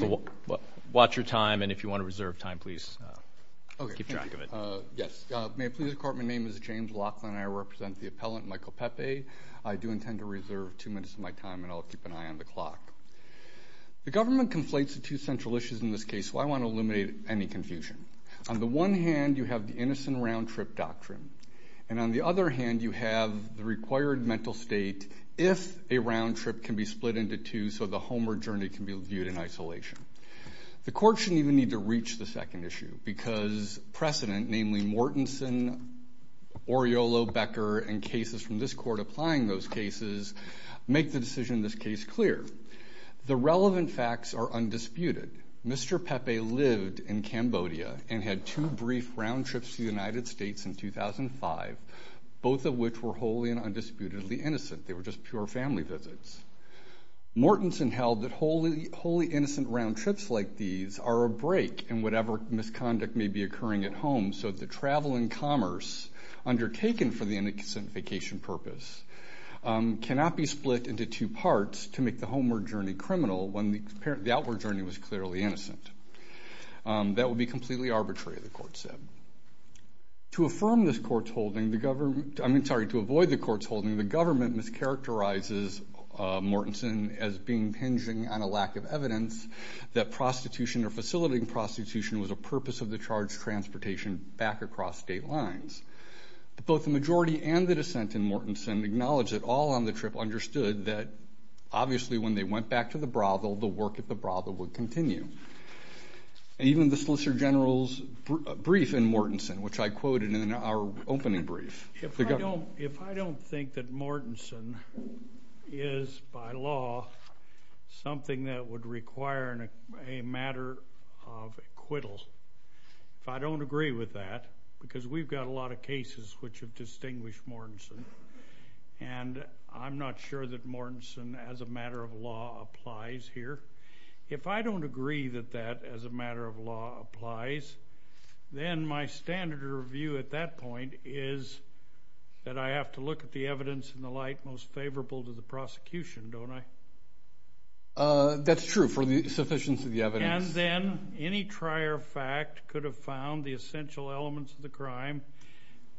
May I please report my name is James Laughlin and I represent the appellant Michael Pepe. I do intend to reserve two minutes of my time and I'll keep an eye on the clock. The government conflates the two central issues in this case so I want to eliminate any confusion. On the one hand you have the innocent round-trip doctrine and on the other hand you have the required mental state if a round-trip can be split into two so the home or journey can be viewed in isolation. The court shouldn't even need to reach the second issue because precedent namely Mortensen, Oriolo, Becker and cases from this court applying those cases make the decision in this case clear. The relevant facts are undisputed. Mr. Pepe lived in Cambodia and had two brief round-trips to the United States in 2005, both of which were wholly and undisputedly innocent. They were just pure family visits. Mortensen held that wholly innocent round-trips like these are a break in whatever misconduct may be occurring at home so the travel and commerce undertaken for the innocent vacation purpose cannot be split into two parts to make the home or journey criminal when the outward journey was clearly innocent. That would be completely arbitrary the court said. To affirm this court's holding, I'm sorry to avoid the court's holding, the government mischaracterizes Mortensen as being hinging on a lack of evidence that prostitution or facilitating prostitution was a purpose of the charged transportation back across state lines. Both the majority and the dissent in Mortensen acknowledge that all on the trip understood that obviously when they went back to the brothel, the work at the brothel would continue. And even the Solicitor General's brief in Mortensen, which I quoted in our opening brief. If I don't think that Mortensen is by law something that would require a matter of acquittal, if I don't agree with that, because we've got a lot of cases which have distinguished Mortensen, and I'm not sure that Mortensen as a matter of law applies here. If I don't agree that that as a matter of law applies, then my standard of review at that point is that I have to look at the evidence in the light most favorable to the prosecution, don't I? That's true for the sufficiency of the evidence. And then any trier fact could have found the essential elements of the crime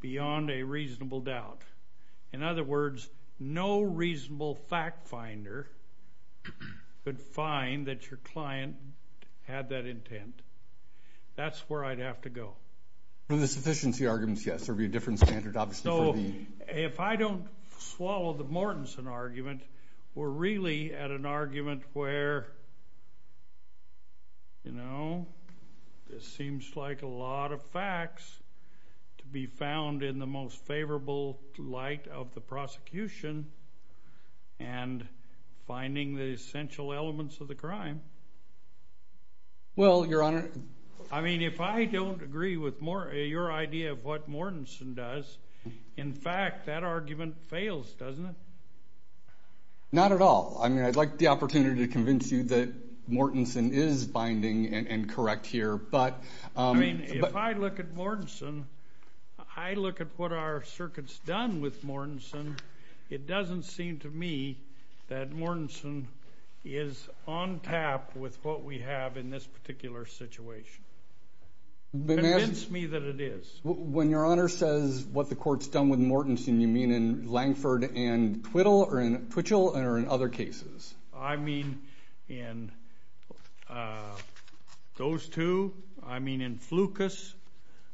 beyond a reasonable doubt. In other words, no reasonable fact finder could find that your client had that intent. That's where I'd have to go. For the sufficiency arguments, yes. There would be a different standard, obviously, for the... ...in the light of the prosecution and finding the essential elements of the crime. Well, Your Honor... I mean, if I don't agree with your idea of what Mortensen does, in fact, that argument fails, doesn't it? Not at all. I mean, I'd like the opportunity to convince you that Mortensen is binding and correct here, but... I mean, if I look at Mortensen, I look at what our circuit's done with Mortensen, it doesn't seem to me that Mortensen is on tap with what we have in this particular situation. But... Convince me that it is. When Your Honor says what the court's done with Mortensen, you mean in Langford and Twittle or in Twitchell or in other cases? I mean in those two, I mean in Flukas,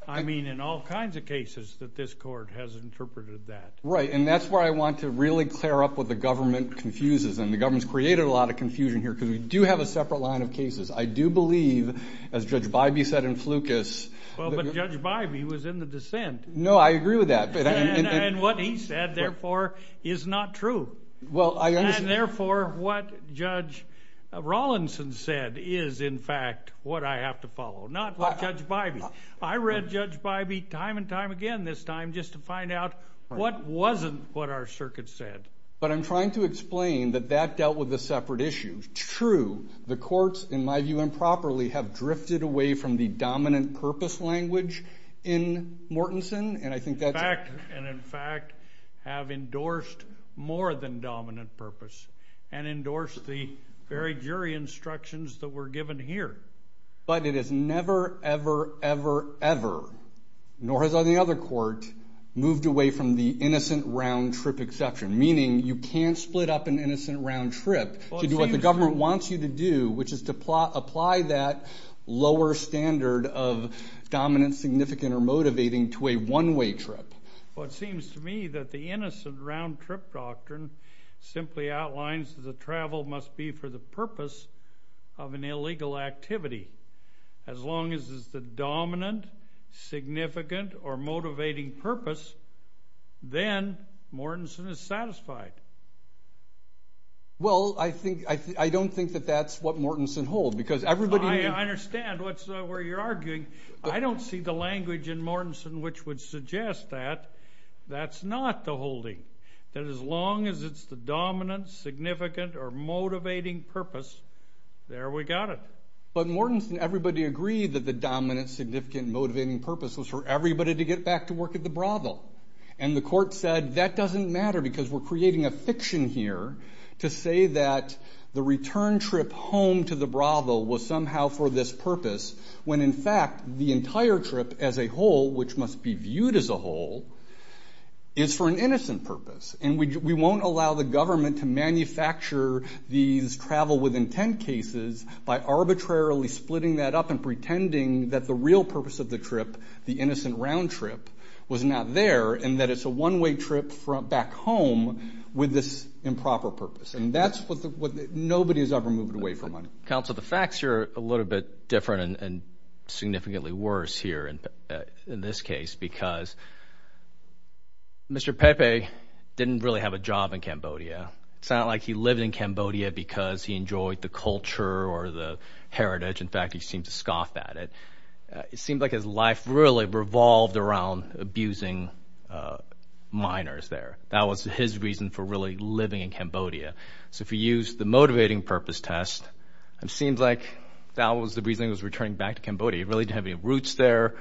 I mean in all kinds of cases that this court has interpreted that. Right. And that's where I want to really clear up what the government confuses. And the government's created a lot of confusion here because we do have a separate line of cases. I do believe, as Judge Bybee said in Flukas... Well, but Judge Bybee was in the dissent. No, I agree with that. And what he said, therefore, is not true. And therefore, what Judge Rawlinson said is, in fact, what I have to follow. Not what Judge Bybee. I read Judge Bybee time and time again this time just to find out what wasn't what our circuit said. But I'm trying to explain that that dealt with a separate issue. True, the courts, in my view improperly, have drifted away from the dominant purpose language in Mortensen. And in fact, have endorsed more than dominant purpose and endorsed the very jury instructions that were given here. But it has never, ever, ever, ever, nor has any other court moved away from the innocent round trip exception. Meaning you can't split up an innocent round trip to do what the government wants you to do, which is to apply that lower standard of dominant, significant, or motivating to a one-way trip. Well, it seems to me that the innocent round trip doctrine simply outlines that the travel must be for the purpose of an illegal activity. As long as it's the dominant, significant, or motivating purpose, then Mortensen is satisfied. Well, I don't think that that's what Mortensen holds, because everybody... I understand where you're arguing. I don't see the language in Mortensen which would suggest that. That's not the holding. That as long as it's the dominant, significant, or motivating purpose, there we got it. But Mortensen, everybody agreed that the dominant, significant, motivating purpose was for everybody to get back to work at the brothel. And the court said, that doesn't matter because we're creating a fiction here to say that the return trip home to the brothel was somehow for this purpose, when in fact the entire trip as a whole, which must be viewed as a whole, is for an innocent purpose. And we won't allow the government to manufacture these travel with intent cases by arbitrarily splitting that up and pretending that the real purpose of the trip, the innocent round trip, was not there and that it's a one-way trip back home with this improper purpose. And that's what... Nobody's ever moved away from money. Counsel, the facts here are a little bit different and significantly worse here in this case, because Mr. Pepe didn't really have a job in Cambodia. It's not like he lived in Cambodia because he enjoyed the culture or the heritage. In fact, he seemed to scoff at it. It seemed like his life really revolved around abusing minors there. That was his reason for really living in Cambodia. So if you use the motivating purpose test, it seems like that was the reason he was returning back to Cambodia. He really didn't have any roots there.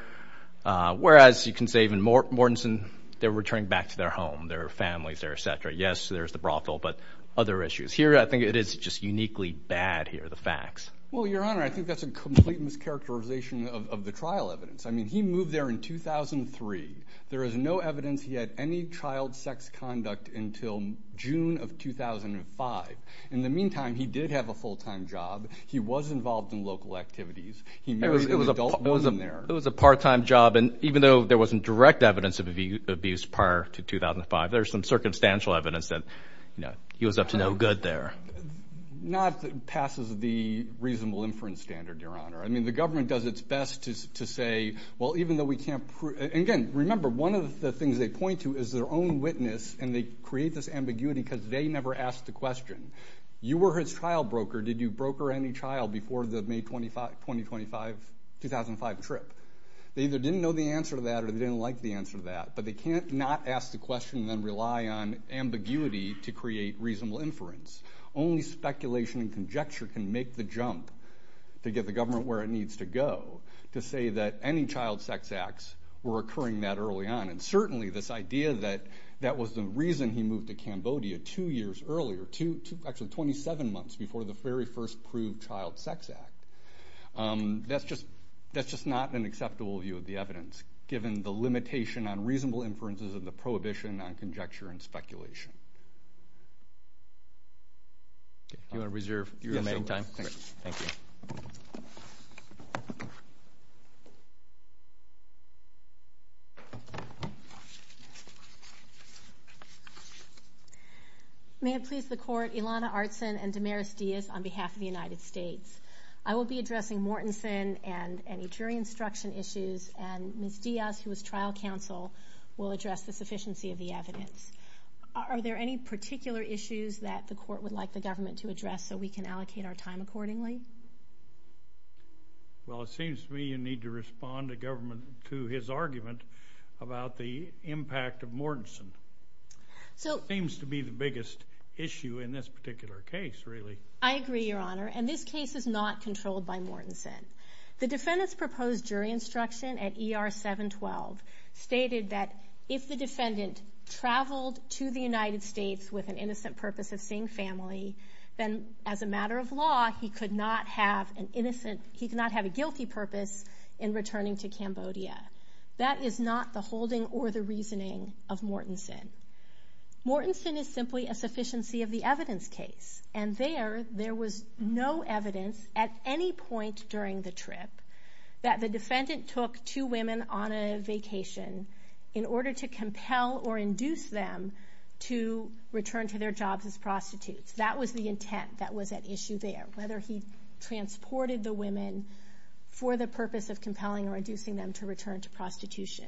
Whereas you can say even Mortensen, they're returning back to their home, their families, their etc. Yes, there's the brothel, but other issues. Here, I think it is just uniquely bad here, the facts. Well, Your Honor, I think that's a complete mischaracterization of the trial evidence. I mean, he moved there in 2003. There is no evidence he had any child sex conduct until June of 2005. In the meantime, he did have a full-time job. He was involved in local activities. He married an adult woman there. It was a part-time job, and even though there wasn't direct evidence of abuse prior to 2005, there's some circumstantial evidence that he was up to no good there. Not that it passes the reasonable inference standard, Your Honor. I mean, the government does its best to say, well, even though we can't prove— and again, remember, one of the things they point to is their own witness, and they create this ambiguity because they never asked the question. You were his trial broker. Did you broker any child before the May 2005 trip? They either didn't know the answer to that or they didn't like the answer to that, but they can't not ask the question and then rely on ambiguity to create reasonable inference. Only speculation and conjecture can make the jump to get the government where it needs to go to say that any child sex acts were occurring that early on. And certainly, this idea that that was the reason he moved to Cambodia two years earlier— actually, 27 months before the very first proved child sex act— that's just not an acceptable view of the evidence, given the limitation on reasonable inferences and the prohibition on conjecture and speculation. Do you want to reserve your remaining time? Yes, I will. Great. Thank you. May it please the Court, Ilana Artson and Damaris Diaz on behalf of the United States. I will be addressing Mortenson and any jury instruction issues, and Ms. Diaz, who was trial counsel, will address the sufficiency of the evidence. Are there any particular issues that the Court would like the government to address so we can allocate our time accordingly? Well, it seems to me you need to respond to government— to his argument about the impact of Mortenson. Seems to be the biggest issue in this particular case, really. I agree, Your Honor, and this case is not controlled by Mortenson. The defendant's proposed jury instruction at ER 712 stated that if the defendant traveled to the United States with an innocent purpose of seeing family, then as a matter of law, he could not have an innocent— he could not have a guilty purpose in returning to Cambodia. That is not the holding or the reasoning of Mortenson. Mortenson is simply a sufficiency of the evidence case, and there, there was no evidence at any point during the trip that the defendant took two women on a vacation in order to compel or induce them to return to their jobs as prostitutes. That was the intent that was at issue there, whether he transported the women for the purpose of compelling or inducing them to return to prostitution.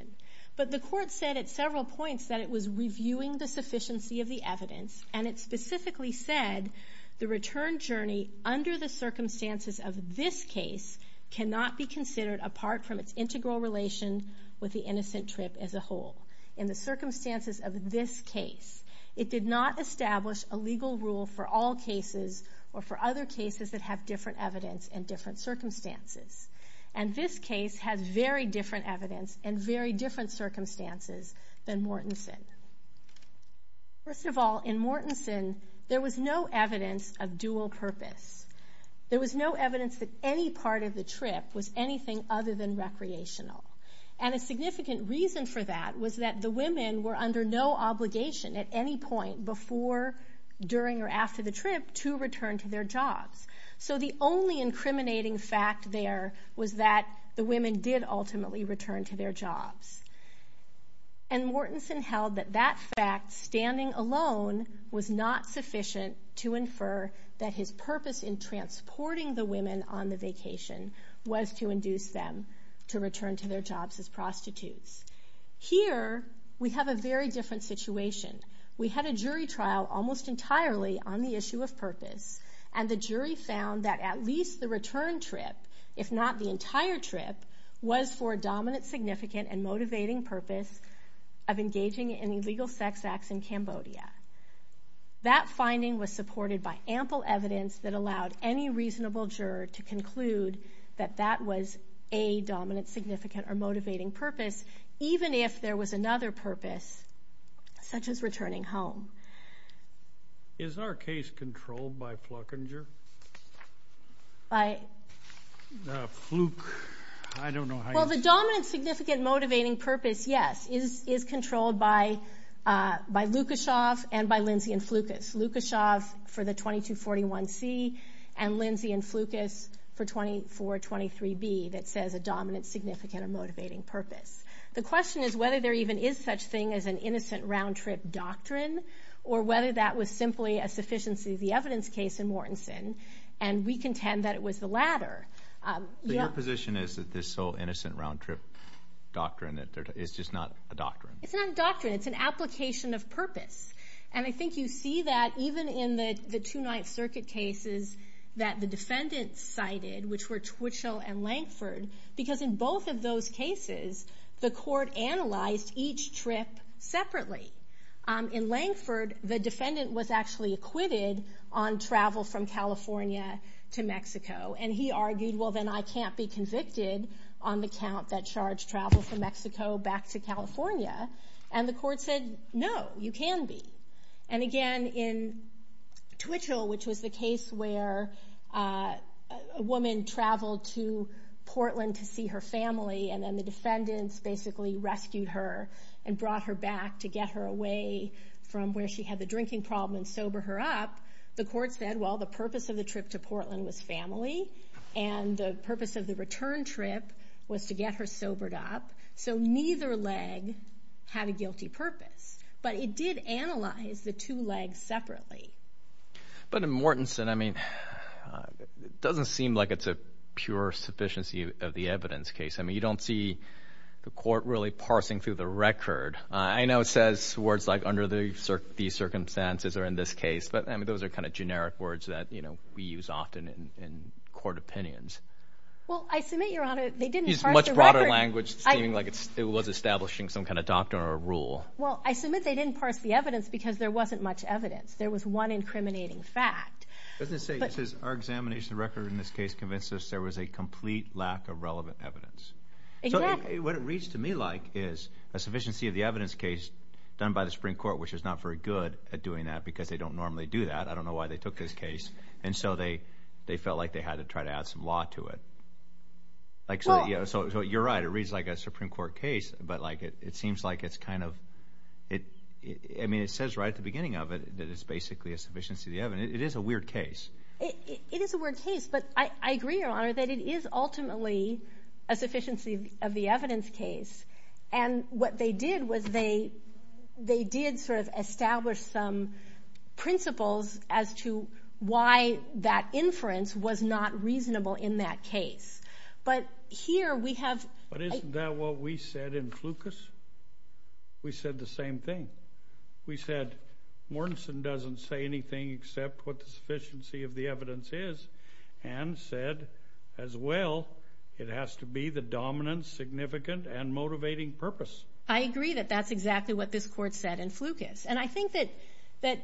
But the Court said at several points that it was reviewing the sufficiency of the evidence, and it specifically said the return journey under the circumstances of this case cannot be considered apart from its integral relation with the innocent trip as a whole. In the circumstances of this case, it did not establish a legal rule for all cases or for other cases that have different evidence and different circumstances. And this case has very different evidence and very different circumstances than Mortenson. First of all, in Mortenson, there was no evidence of dual purpose. There was no evidence that any part of the trip was anything other than recreational. And a significant reason for that was that the women were under no obligation at any point before, during, or after the trip to return to their jobs. So the only incriminating fact there was that the women did ultimately return to their jobs. And Mortenson held that that fact, standing alone, was not sufficient to infer that his purpose in transporting the women on the vacation was to induce them to return to their jobs as prostitutes. Here, we have a very different situation. We had a jury trial almost entirely on the issue of purpose, and the jury found that at least the return trip, if not the entire trip, was for a dominant, significant, and motivating purpose of engaging in illegal sex acts in Cambodia. That finding was supported by ample evidence that allowed any reasonable juror to conclude that that was a dominant, significant, or motivating purpose, even if there was another purpose, such as returning home. Is our case controlled by Flukinger? By... Fluk... I don't know how you... Well, the dominant, significant, motivating purpose, yes, is controlled by Lukashev and by Lindsay and Flukas. Lukashev for the 2241C and Lindsay and Flukas for 2423B that says a dominant, significant, or motivating purpose. The question is whether there even is such thing as an innocent round-trip doctrine, or whether that was simply a sufficiency of the evidence case in Mortenson, and we contend that it was the latter. Your position is that this whole innocent round-trip doctrine is just not a doctrine? It's not a doctrine. It's an application of purpose. And I think you see that even in the Two-Ninth Circuit cases that the defendant cited, which were Twitchell and Lankford, because in both of those cases, the court analyzed each trip separately. In Lankford, the defendant was actually acquitted on travel from California to Mexico, and he argued, well, then I can't be convicted on the count that charged travel from Mexico back to California. And the court said, no, you can be. And again, in Twitchell, which was the case where a woman traveled to Portland to see her family, and then the defendants basically rescued her and brought her back to get her away from where she had the drinking problem and sober her up, the court said, well, the purpose of the trip to Portland was family, and the purpose of the return trip was to get her sobered up, so neither leg had a guilty purpose. But it did analyze the two legs separately. But in Mortenson, I mean, it doesn't seem like it's a pure sufficiency of the evidence case. I mean, you don't see the court really parsing through the record. I know it says words like under these circumstances or in this case, but, I mean, those are kind of generic words that, you know, we use often in court opinions. Well, I submit, Your Honor, they didn't parse the record. Use much broader language, seeming like it was establishing some kind of doctrine or rule. Well, I submit they didn't parse the evidence because there wasn't much evidence. There was one incriminating fact. It doesn't say, it says, our examination of the record in this case convinced us there was a complete lack of relevant evidence. Exactly. So what it reads to me like is a sufficiency of the evidence case done by the Supreme Court, which is not very good at doing that because they don't normally do that. I don't know why they took this case. And so they felt like they had to try to add some law to it. So you're right. It reads like a Supreme Court case, but, like, it seems like it's kind of, I mean, it says right at the beginning of it that it's basically a sufficiency of the evidence. It is a weird case. It is a weird case, but I agree, Your Honor, that it is ultimately a sufficiency of the evidence case. And what they did was they did sort of establish some principles as to why that inference was not reasonable in that case. But here we have. But isn't that what we said in Flukas? We said the same thing. We said Mortensen doesn't say anything except what the sufficiency of the evidence is and said, as well, it has to be the dominant, significant, and motivating purpose. I agree that that's exactly what this Court said in Flukas. And I think that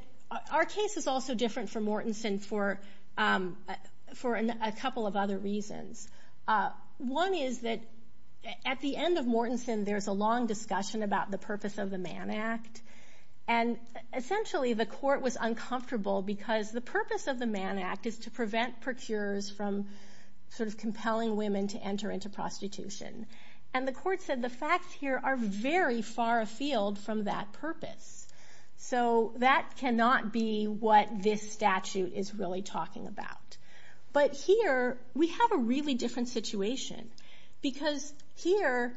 our case is also different from Mortensen for a couple of other reasons. One is that at the end of Mortensen there's a long discussion about the purpose of the Mann Act, and essentially the Court was uncomfortable because the purpose of the Mann Act is to prevent procurers from sort of compelling women to enter into prostitution. And the Court said the facts here are very far afield from that purpose. So that cannot be what this statute is really talking about. But here we have a really different situation because here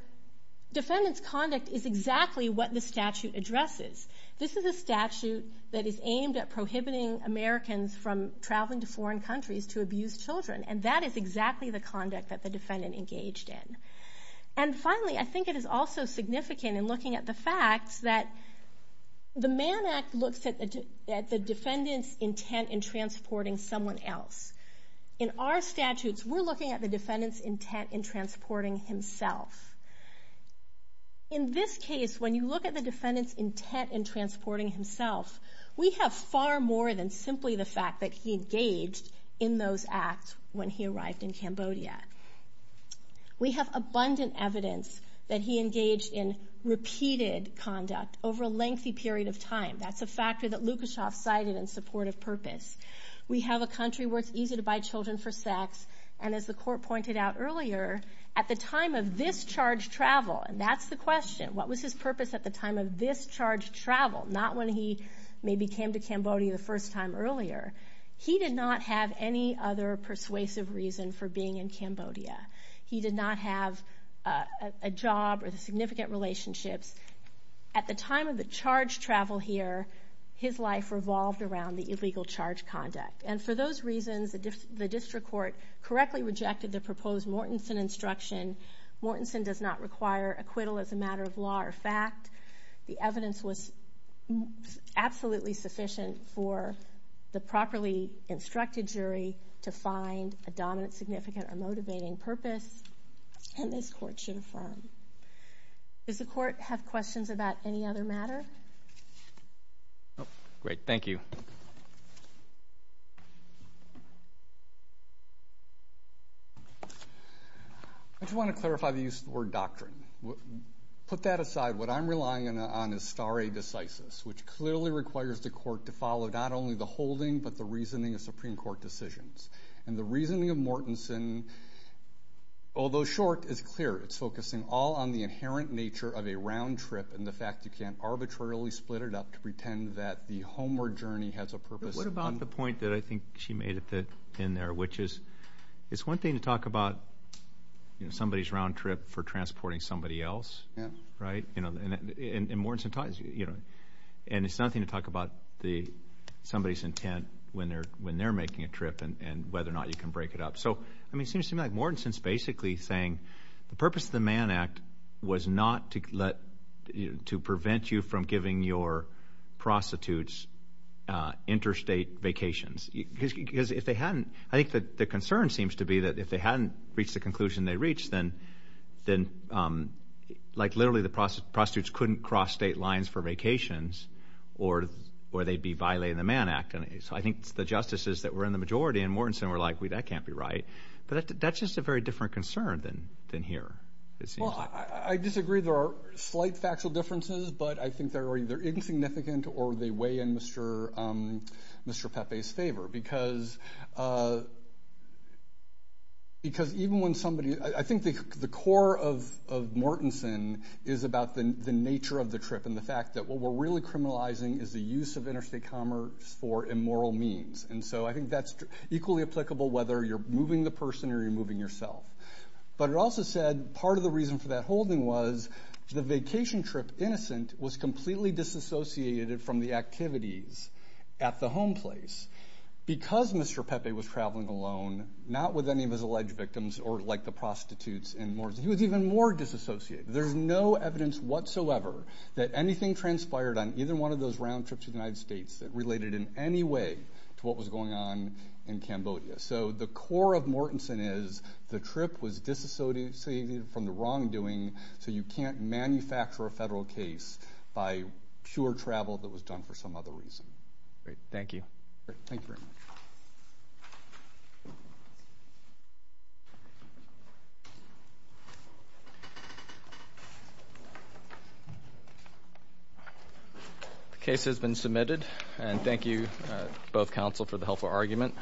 defendants' conduct is exactly what the statute addresses. This is a statute that is aimed at prohibiting Americans from traveling to foreign countries to abuse children, and that is exactly the conduct that the defendant engaged in. And finally, I think it is also significant in looking at the fact that the Mann Act looks at the defendant's intent in transporting someone else. In our statutes, we're looking at the defendant's intent in transporting himself. In this case, when you look at the defendant's intent in transporting himself, we have far more than simply the fact that he engaged in those acts when he arrived in Cambodia. We have abundant evidence that he engaged in repeated conduct over a lengthy period of time. That's a factor that Lukashoff cited in support of purpose. We have a country where it's easy to buy children for sex, and as the Court pointed out earlier, at the time of this charged travel, and that's the question. What was his purpose at the time of this charged travel? Not when he maybe came to Cambodia the first time earlier. He did not have any other persuasive reason for being in Cambodia. He did not have a job or significant relationships. At the time of the charged travel here, his life revolved around the illegal charge conduct. And for those reasons, the district court correctly rejected the proposed Mortenson instruction. Mortenson does not require acquittal as a matter of law or fact. The evidence was absolutely sufficient for the properly instructed jury to find a dominant, significant, or motivating purpose, and this Court should affirm. Does the Court have questions about any other matter? Great. Thank you. I just want to clarify the use of the word doctrine. Put that aside. What I'm relying on is stare decisis, which clearly requires the Court to follow not only the holding but the reasoning of Supreme Court decisions. And the reasoning of Mortenson, although short, is clear. It's focusing all on the inherent nature of a round trip and the fact you can't arbitrarily split it up to pretend that the homeward journey has a purpose. What about the point that I think she made in there, which is it's one thing to talk about somebody's round trip for transporting somebody else, right? And it's another thing to talk about somebody's intent when they're making a trip and whether or not you can break it up. So, I mean, it seems to me like Mortenson is basically saying the purpose of the Mann Act was not to prevent you from giving your prostitutes interstate vacations. Because if they hadn't, I think the concern seems to be that if they hadn't reached the conclusion they reached, then like literally the prostitutes couldn't cross state lines for vacations or they'd be violating the Mann Act. So I think the justices that were in the majority in Mortenson were like, well, that can't be right. But that's just a very different concern than here. Well, I disagree. There are slight factual differences, but I think they're either insignificant or they weigh in Mr. Pepe's favor because even when somebody – I think the core of Mortenson is about the nature of the trip and the fact that what we're really criminalizing is the use of interstate commerce for immoral means. And so I think that's equally applicable whether you're moving the person or you're moving yourself. But it also said part of the reason for that holding was the vacation trip innocent was completely disassociated from the activities at the home place because Mr. Pepe was traveling alone, not with any of his alleged victims or like the prostitutes in Mortenson. He was even more disassociated. There's no evidence whatsoever that anything transpired on either one of those round trips to the United States that related in any way to what was going on in Cambodia. So the core of Mortenson is the trip was disassociated from the wrongdoing, so you can't manufacture a federal case by pure travel that was done for some other reason. Great. Thank you. Thank you very much. The case has been submitted, and thank you both counsel for the helpful argument.